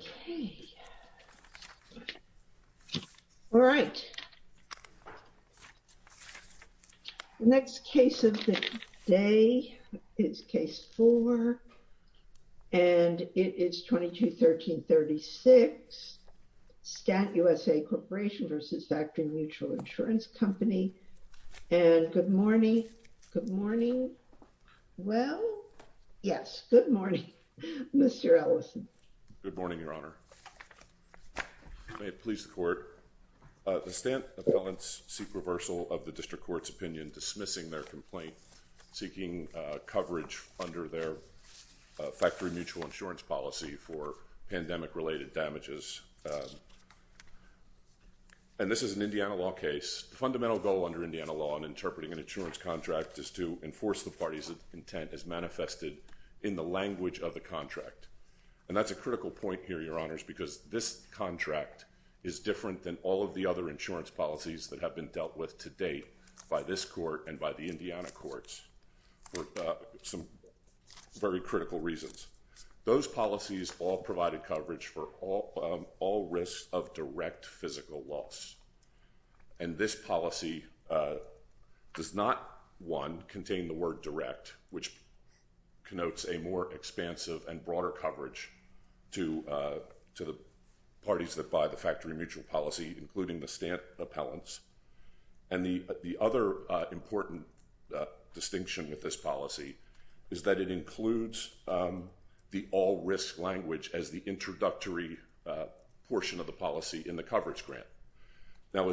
Okay. Alright. The next case of the day is Case 4, and it is 22-13-36, Stant USA Corp. v. Factory Mutual Insurance Company, and good morning, good morning, well, yes, good morning, Mr. Ellison. Good morning, Your Honor. May it please the court. The Stant appellants seek reversal of the district court's opinion, dismissing their complaint, seeking coverage under their factory mutual insurance policy for pandemic-related damages. And this is an Indiana law case. The fundamental goal under Indiana law in interpreting an insurance contract is to enforce the parties' intent as manifested in the language of the contract. And that's a critical point here, Your Honors, because this contract is different than all of the other insurance policies that have been dealt with to date by this court and by the Indiana courts for some very critical reasons. Those policies all provided coverage for all risks of direct physical loss, and this policy does not, one, contain the word direct, which connotes a more expansive and broader coverage to the parties that buy the factory mutual policy, including the Stant appellants. And the other important distinction with this policy is that it includes the all-risk language as the introductory portion of the policy in the coverage grant. Now,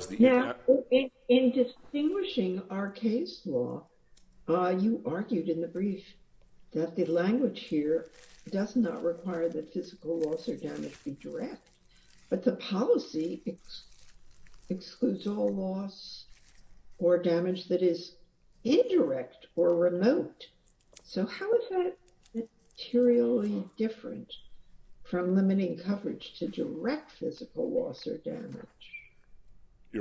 in distinguishing our case law, you argued in the brief that the language here does not require that physical loss or damage be direct, but the policy excludes all loss or damage that is indirect or remote. So how is that materially different from limiting coverage to direct physical loss or damage? If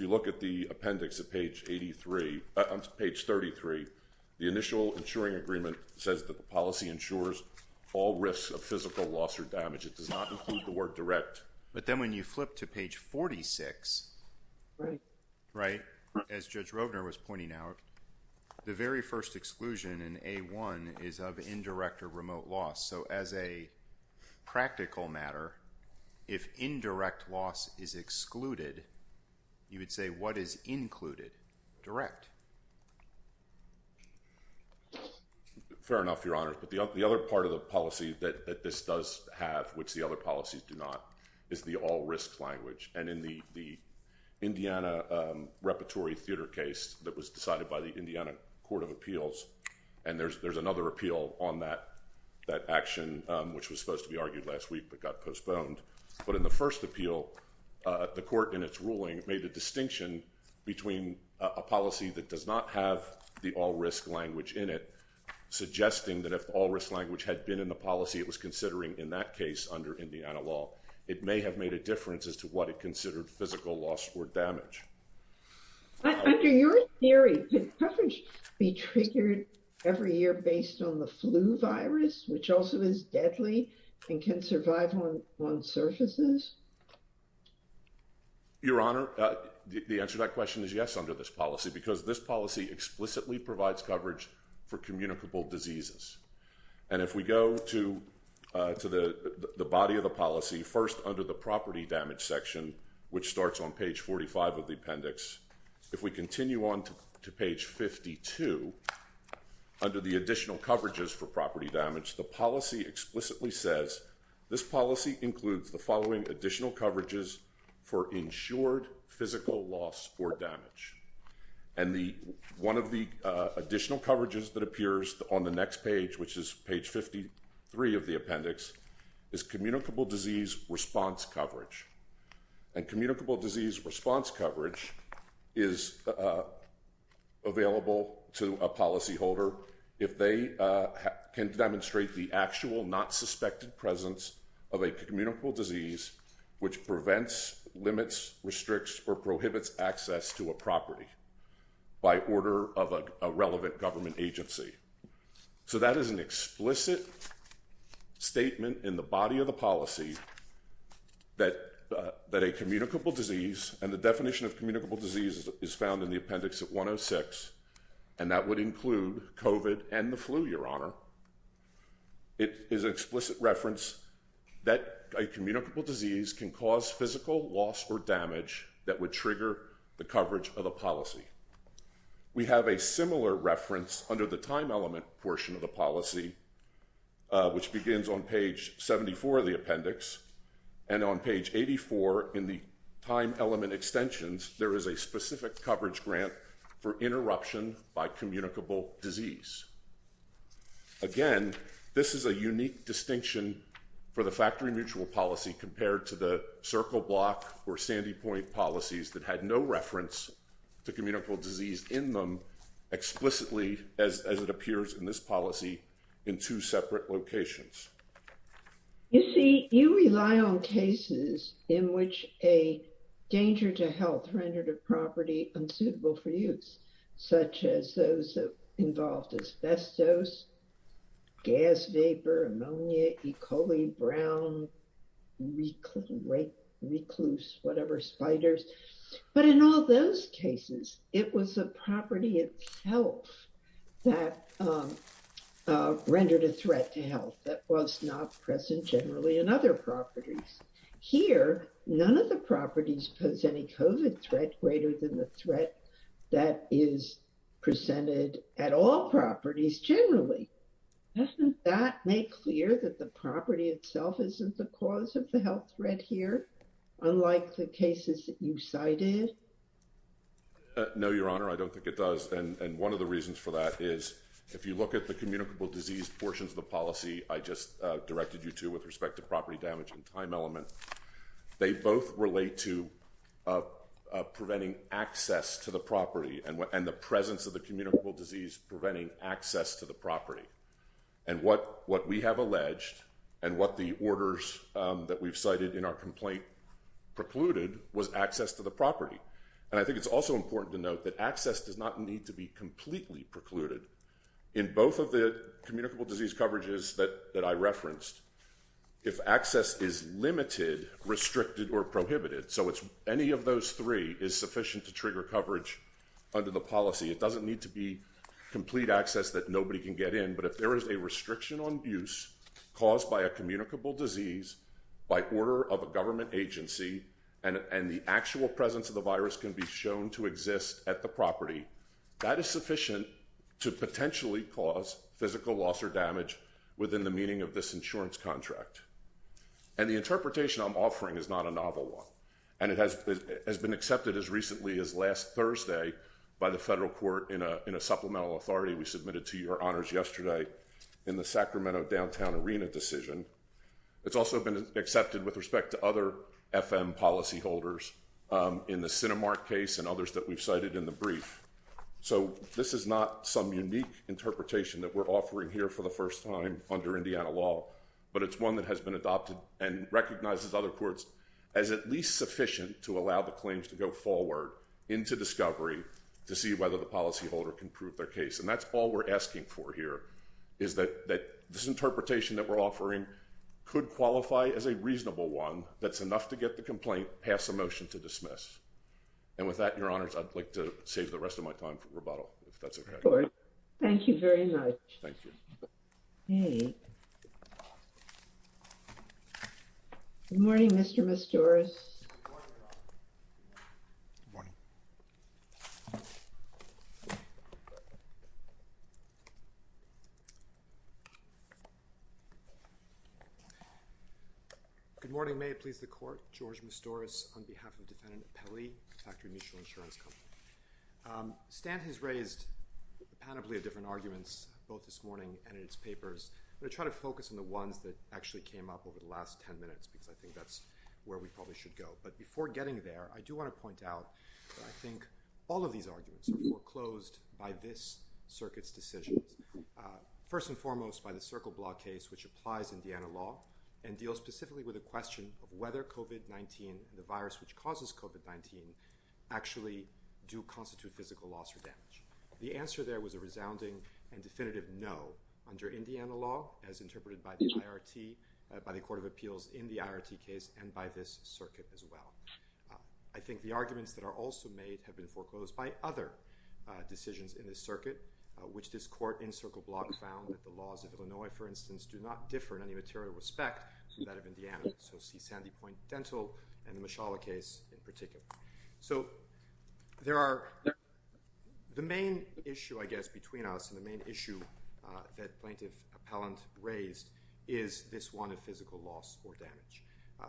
you look at the appendix on page 33, the initial insuring agreement says that the policy ensures all risks of physical loss or damage. It does not include the word direct. But then when you flip to page 46, right, as Judge Rovner was pointing out, the very first exclusion in A1 is of indirect or remote loss. So as a practical matter, if indirect loss is excluded, you would say what is included? Direct. Fair enough, Your Honors. But the other part of the policy that this does have, which the other policies do not, is the all-risk language. And in the Indiana Repertory Theater case that was decided by the Indiana Court of Appeals, and there's another appeal on that action, which was supposed to be argued last week but got postponed. But in the first appeal, the court in its ruling made a distinction between a policy that does not have the all-risk language in it, suggesting that if all-risk language had been in the policy it was considering in that case under Indiana law, it may have made a difference as to what it considered physical loss or damage. Under your theory, can coverage be triggered every year based on the flu virus, which also is deadly and can survive on surfaces? Your Honor, the answer to that question is yes, under this policy, because this policy explicitly provides coverage for communicable diseases. And if we go to the body of the policy, first under the property damage section, which starts on page 45 of the appendix, if we continue on to page 52, under the additional coverages for property damage, the policy explicitly says, this policy includes the following additional coverages for insured physical loss or damage. And one of the additional coverages that appears on the next page, which is page 53 of the appendix, is communicable disease response coverage. And communicable disease response coverage is available to a policyholder if they can demonstrate the actual, not suspected presence of a communicable disease which prevents, limits, restricts, or prohibits access to a property by order of a relevant government agency. So that is an explicit statement in the body of the policy that a communicable disease, and the definition of communicable disease is found in the appendix at 106, and that would include COVID and the flu, Your Honor. It is an explicit reference that a communicable disease can cause physical loss or damage that would trigger the coverage of a policy. We have a similar reference under the time element portion of the policy, which begins on page 74 of the appendix, and on page 84 in the time element extensions, there is a specific coverage grant for interruption by communicable disease. Again, this is a unique distinction for the factory mutual policy compared to the circle block or sandy point policies that had no reference to communicable disease in them explicitly as it appears in this policy in two separate locations. You see, you rely on cases in which a danger to health rendered a property unsuitable for use, such as those involved asbestos, gas vapor, ammonia, E. coli, brown, recluse, whatever, spiders. But in all those cases, it was a property itself that rendered a threat to health that was not present generally in other properties. Here, none of the properties pose any COVID threat greater than the threat that is presented at all properties generally. Doesn't that make clear that the property itself isn't the cause of the health threat here, unlike the cases that you cited? No, Your Honor, I don't think it does. And one of the reasons for that is, if you look at the communicable disease portions of the policy I just directed you to with respect to property damage and time element, they both relate to preventing access to the property and the presence of the communicable disease preventing access to the property. And what we have alleged and what the orders that we've cited in our complaint precluded was access to the property. And I think it's also important to note that access does not need to be completely precluded. In both of the communicable disease coverages that I referenced, if access is limited, restricted, or prohibited, so any of those three is sufficient to trigger coverage under the policy. It doesn't need to be complete access that nobody can get in. But if there is a restriction on use caused by a communicable disease by order of a government agency and the actual presence of the virus can be shown to exist at the property, that is sufficient to potentially cause physical loss or damage within the meaning of this insurance contract. And the interpretation I'm offering is not a novel one. And it has been accepted as recently as last Thursday by the federal court in a supplemental authority we submitted to your honors yesterday in the Sacramento downtown arena decision. It's also been accepted with respect to other FM policyholders in the Cinemark case and others that we've cited in the brief. So this is not some unique interpretation that we're offering here for the first time under Indiana law. But it's one that has been adopted and recognizes other courts as at least sufficient to allow the claims to go forward into discovery to see whether the policyholder can prove their case. And that's all we're asking for here is that this interpretation that we're offering could qualify as a reasonable one that's enough to get the complaint, pass a motion to dismiss. And with that, your honors, I'd like to save the rest of my time for rebuttal, if that's okay. Thank you very much. Thank you. Hey. Morning, Mr. Mr. Morning. Good morning. May it please the court. George stores on behalf of defendant Pelly factory mutual insurance company. Stan has raised a panoply of different arguments, both this morning and in its papers. I'm going to try to focus on the ones that actually came up over the last 10 minutes, because I think that's where we probably should go. But before getting there, I do want to point out that I think all of these arguments were closed by this circuit's decisions. First and foremost, by the circle block case, which applies Indiana law and deal specifically with a question of whether COVID-19 the virus, which causes COVID-19 actually do constitute physical loss or damage. The answer there was a resounding and definitive. No. Under Indiana law, as interpreted by the IRT, by the court of appeals in the IRT case and by this circuit as well. I think the arguments that are also made have been foreclosed by other decisions in the circuit, which this court in circle block found that the laws of Illinois, for instance, do not differ in any material respect. So Sandy point dental and the Mishala case in particular. So there are the main issue, I guess, between us and the main issue that plaintiff appellant raised is this one of physical loss or damage.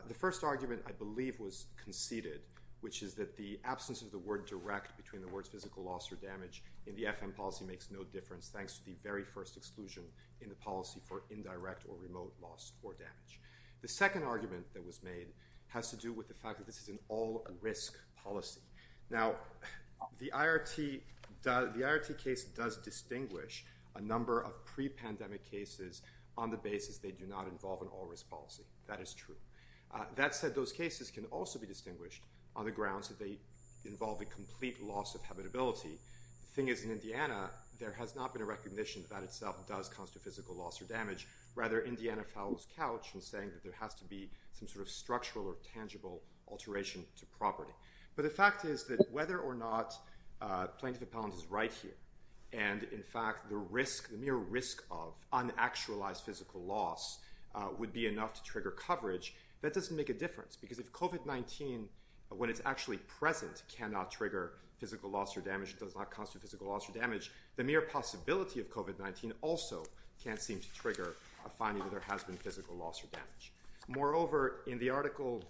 The first argument, I believe, was conceded, which is that the absence of the word direct between the words physical loss or damage in the FM policy makes no difference. Thanks to the very first exclusion in the policy for indirect or remote loss or damage. The second argument that was made has to do with the fact that this is an all risk policy. Now, the IRT case does distinguish a number of pre pandemic cases on the basis they do not involve an all risk policy. That is true. That said, those cases can also be distinguished on the grounds that they involve a complete loss of habitability. Thing is, in Indiana, there has not been a recognition that itself does constitute physical loss or damage. Rather, Indiana fouls couch and saying that there has to be some sort of structural or tangible alteration to property. But the fact is that whether or not plaintiff appellant is right here, and in fact, the risk, the mere risk of unactualized physical loss would be enough to trigger coverage. That doesn't make a difference because if COVID-19, when it's actually present, cannot trigger physical loss or damage, it does not constitute physical loss or damage. The mere possibility of COVID-19 also can't seem to trigger a finding that there has been physical loss or damage. Moreover, in the article,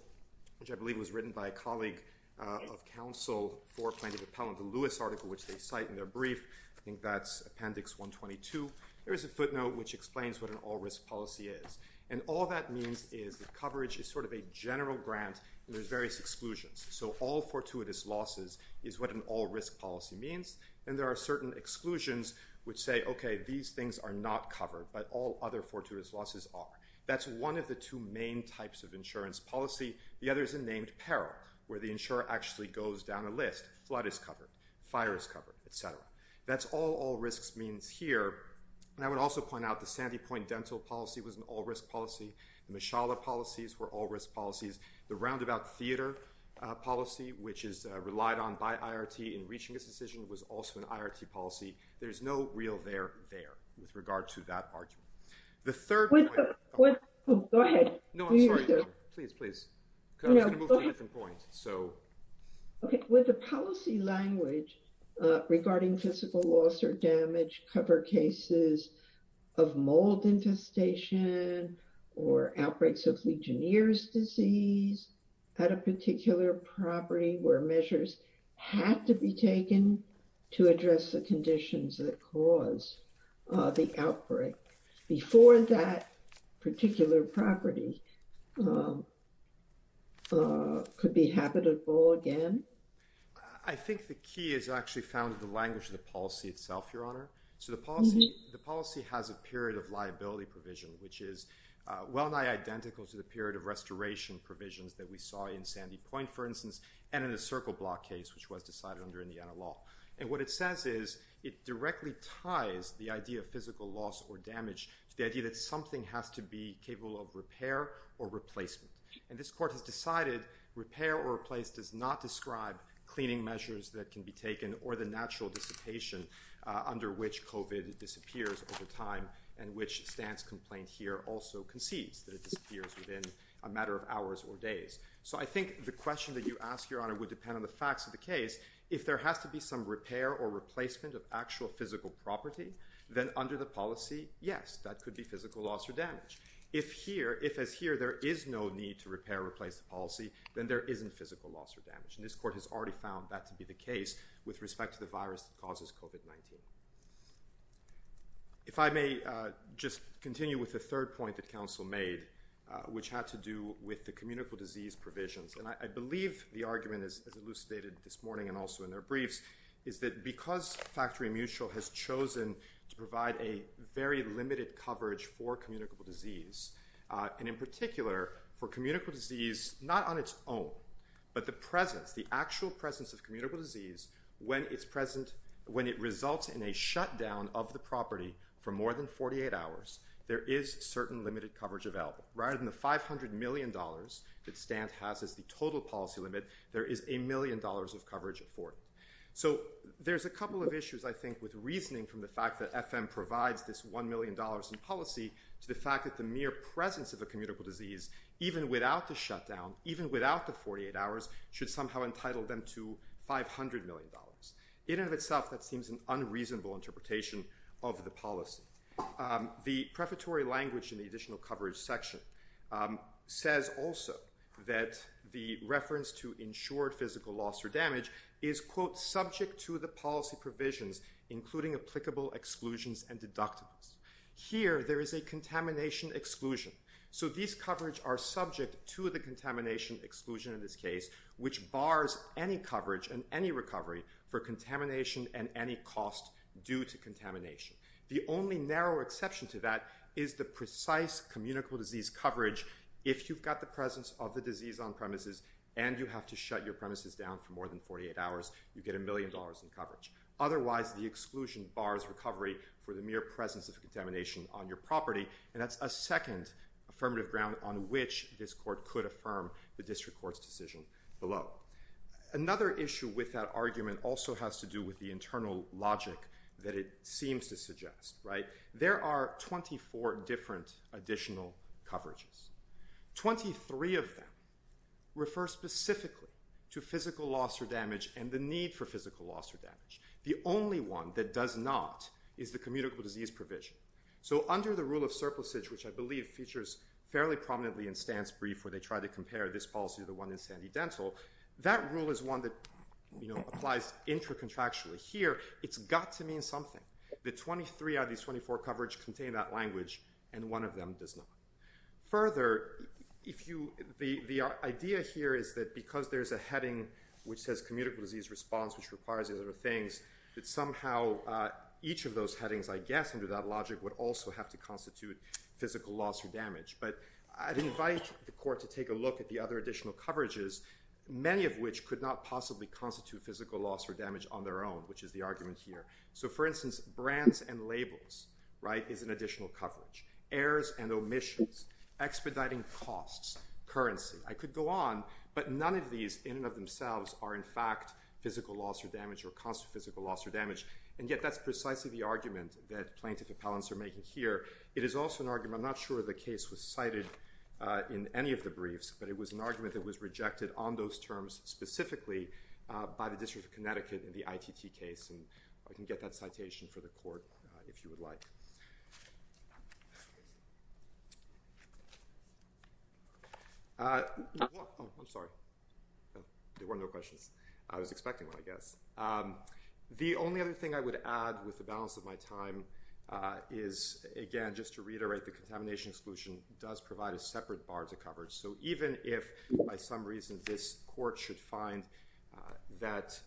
which I believe was written by a colleague of counsel for plaintiff appellant, the Lewis article, which they cite in their brief, I think that's appendix 122, there is a footnote which explains what an all risk policy is. And all that means is that coverage is sort of a general grant, and there's various exclusions. So all fortuitous losses is what an all risk policy means. And there are certain exclusions which say, okay, these things are not covered, but all other fortuitous losses are. That's one of the two main types of insurance policy. The other is a named peril, where the insurer actually goes down a list. Flood is covered, fire is covered, et cetera. That's all all risks means here. And I would also point out the Sandy Point dental policy was an all risk policy. The Mishala policies were all risk policies. The roundabout theater policy, which is relied on by IRT in reaching this decision, was also an IRT policy. There's no real there there with regard to that argument. The third point. Go ahead. No, I'm sorry. Please, please. I was going to move to a different point. Okay. With the policy language regarding physical loss or damage cover cases of mold infestation or outbreaks of Legionnaire's disease, at a particular property where measures had to be taken to address the conditions that cause the outbreak before that particular property could be habitable again? I think the key is actually found in the language of the policy itself, Your Honor. So the policy has a period of liability provision, which is well nigh identical to the period of restoration provisions that we saw in Sandy Point, for instance, and in the Circle Block case, which was decided under Indiana law. And what it says is it directly ties the idea of physical loss or damage to the idea that something has to be capable of repair or replacement. And this court has decided repair or replace does not describe cleaning measures that can be taken or the natural dissipation under which COVID disappears over time, and which stance complaint here also concedes that it disappears within a matter of hours or days. So I think the question that you ask, Your Honor, would depend on the facts of the case. If there has to be some repair or replacement of actual physical property, then under the policy, yes, that could be physical loss or damage. If as here, there is no need to repair or replace the policy, then there isn't physical loss or damage. And this court has already found that to be the case with respect to the virus that causes COVID-19. If I may just continue with the third point that counsel made, which had to do with the communicable disease provisions. And I believe the argument is elucidated this morning and also in their briefs, is that because Factory Mutual has chosen to provide a very limited coverage for communicable disease, and in particular, for communicable disease, not on its own, but the presence, the actual presence of communicable disease, when it results in a shutdown of the property for more than 48 hours, there is certain limited coverage available. Rather than the $500 million that Stant has as the total policy limit, there is a million dollars of coverage afforded. So there's a couple of issues, I think, with reasoning from the fact that FM provides this $1 million in policy to the fact that the mere presence of a communicable disease, even without the shutdown, even without the 48 hours, should somehow entitle them to $500 million. In and of itself, that seems an unreasonable interpretation of the policy. The prefatory language in the additional coverage section says also that the reference to insured physical loss or damage is, quote, subject to the policy provisions, including applicable exclusions and deductibles. Here, there is a contamination exclusion. So these coverage are subject to the contamination exclusion in this case, which bars any coverage and any recovery for contamination and any cost due to contamination. The only narrow exception to that is the precise communicable disease coverage. If you've got the presence of the disease on premises and you have to shut your premises down for more than 48 hours, you get a million dollars in coverage. Otherwise, the exclusion bars recovery for the mere presence of contamination on your property, and that's a second affirmative ground on which this court could affirm the district court's decision below. Another issue with that argument also has to do with the internal logic that it seems to suggest. There are 24 different additional coverages. Twenty-three of them refer specifically to physical loss or damage and the need for physical loss or damage. The only one that does not is the communicable disease provision. So under the rule of surplusage, which I believe features fairly prominently in stance brief where they try to compare this policy to the one in Sandy Dental, that rule is one that applies intracontractually. Here, it's got to mean something. The 23 out of these 24 coverage contain that language, and one of them does not. Further, the idea here is that because there's a heading which says communicable disease response, which requires these other things, that somehow each of those headings, I guess, under that logic would also have to constitute physical loss or damage. But I'd invite the court to take a look at the other additional coverages, many of which could not possibly constitute physical loss or damage on their own, which is the argument here. So, for instance, brands and labels is an additional coverage. Errors and omissions. Expediting costs. Currency. I could go on, but none of these in and of themselves are, in fact, physical loss or damage or constant physical loss or damage, and yet that's precisely the argument that plaintiff appellants are making here. It is also an argument, I'm not sure the case was cited in any of the briefs, but it was an argument that was rejected on those terms specifically by the District of Connecticut in the ITT case, and I can get that citation for the court if you would like. I'm sorry. There were no questions. The only other thing I would add with the balance of my time is, again, just to reiterate, the contamination exclusion does provide a separate bar to coverage. So even if, by some reason, this court should find that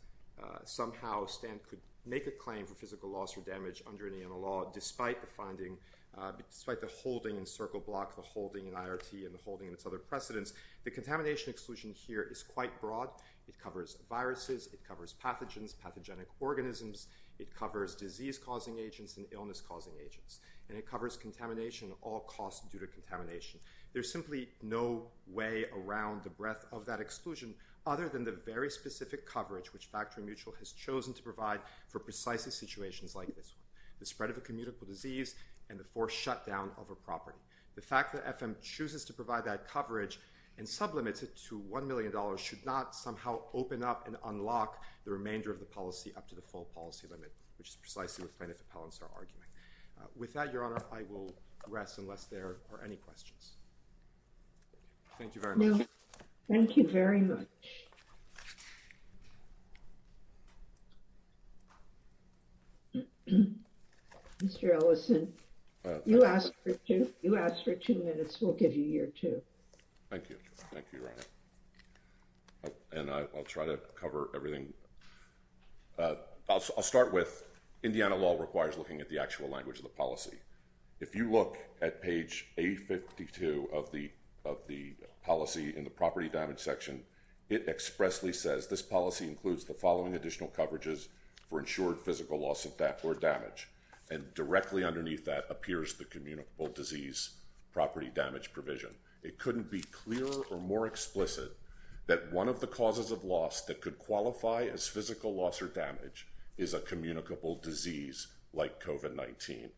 somehow Stan could make a claim for physical loss or damage under Indiana law, despite the holding in Circle Block, the holding in IRT, and the holding in its other precedents, the contamination exclusion here is quite broad. It covers viruses. It covers pathogens, pathogenic organisms. It covers disease-causing agents and illness-causing agents, and it covers contamination at all costs due to contamination. There's simply no way around the breadth of that exclusion other than the very specific coverage which Factory Mutual has chosen to provide for precisely situations like this one, the spread of a communicable disease and the forced shutdown of a property. The fact that FM chooses to provide that coverage and sublimits it to $1 million should not somehow open up and unlock the remainder of the policy up to the full policy limit, which is precisely what plaintiff appellants are arguing. With that, Your Honor, I will rest unless there are any questions. Thank you very much. Thank you very much. Mr. Ellison, you asked for two minutes. We'll give you your two. Thank you. Thank you, Your Honor. And I'll try to cover everything. I'll start with Indiana law requires looking at the actual language of the policy. If you look at page 852 of the policy in the property damage section, it expressly says this policy includes the following additional coverages for insured physical loss or damage. And directly underneath that appears the communicable disease property damage provision. It couldn't be clearer or more explicit that one of the causes of loss that could qualify as physical loss or damage is a communicable disease like COVID-19.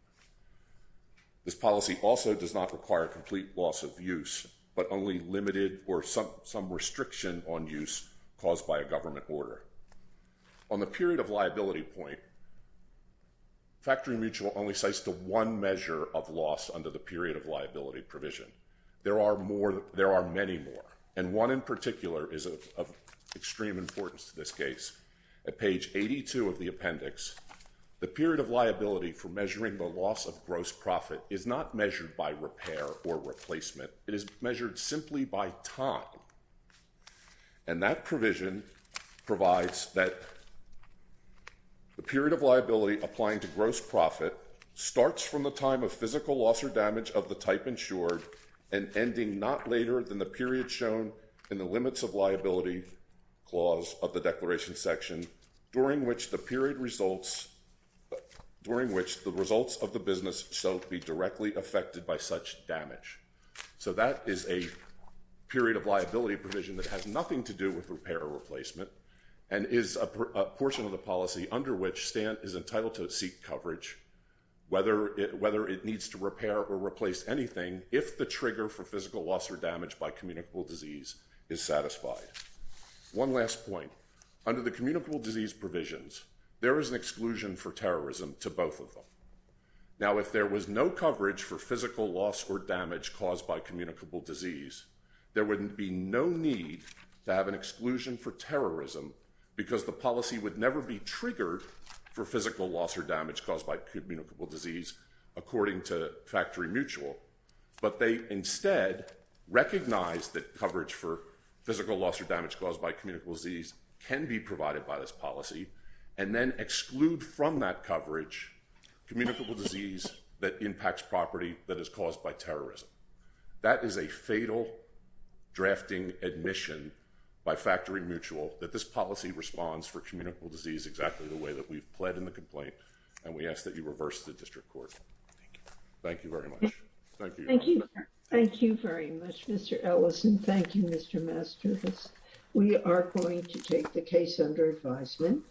This policy also does not require complete loss of use, but only limited or some restriction on use caused by a government order. On the period of liability point, Factory Mutual only cites the one measure of loss under the period of liability provision. There are many more, and one in particular is of extreme importance to this case. At page 82 of the appendix, the period of liability for measuring the loss of gross profit is not measured by repair or replacement. It is measured simply by time. And that provision provides that the period of liability applying to gross profit starts from the time of physical loss or damage of the type insured. And ending not later than the period shown in the limits of liability clause of the declaration section. During which the period results during which the results of the business so be directly affected by such damage. So that is a period of liability provision that has nothing to do with repair or replacement. And is a portion of the policy under which Stan is entitled to seek coverage. Whether it needs to repair or replace anything, if the trigger for physical loss or damage by communicable disease is satisfied. One last point. Under the communicable disease provisions, there is an exclusion for terrorism to both of them. Now if there was no coverage for physical loss or damage caused by communicable disease. There wouldn't be no need to have an exclusion for terrorism. Because the policy would never be triggered for physical loss or damage caused by communicable disease according to factory mutual. But they instead recognize that coverage for physical loss or damage caused by communicable disease can be provided by this policy. And then exclude from that coverage communicable disease that impacts property that is caused by terrorism. That is a fatal drafting admission by factory mutual that this policy responds for communicable disease exactly the way that we've pledged in the complaint. And we ask that you reverse the district court. Thank you very much. Thank you. Thank you. Thank you very much, Mr. Ellison. Thank you, Mr. Masturbus. We are going to take the case under advisement.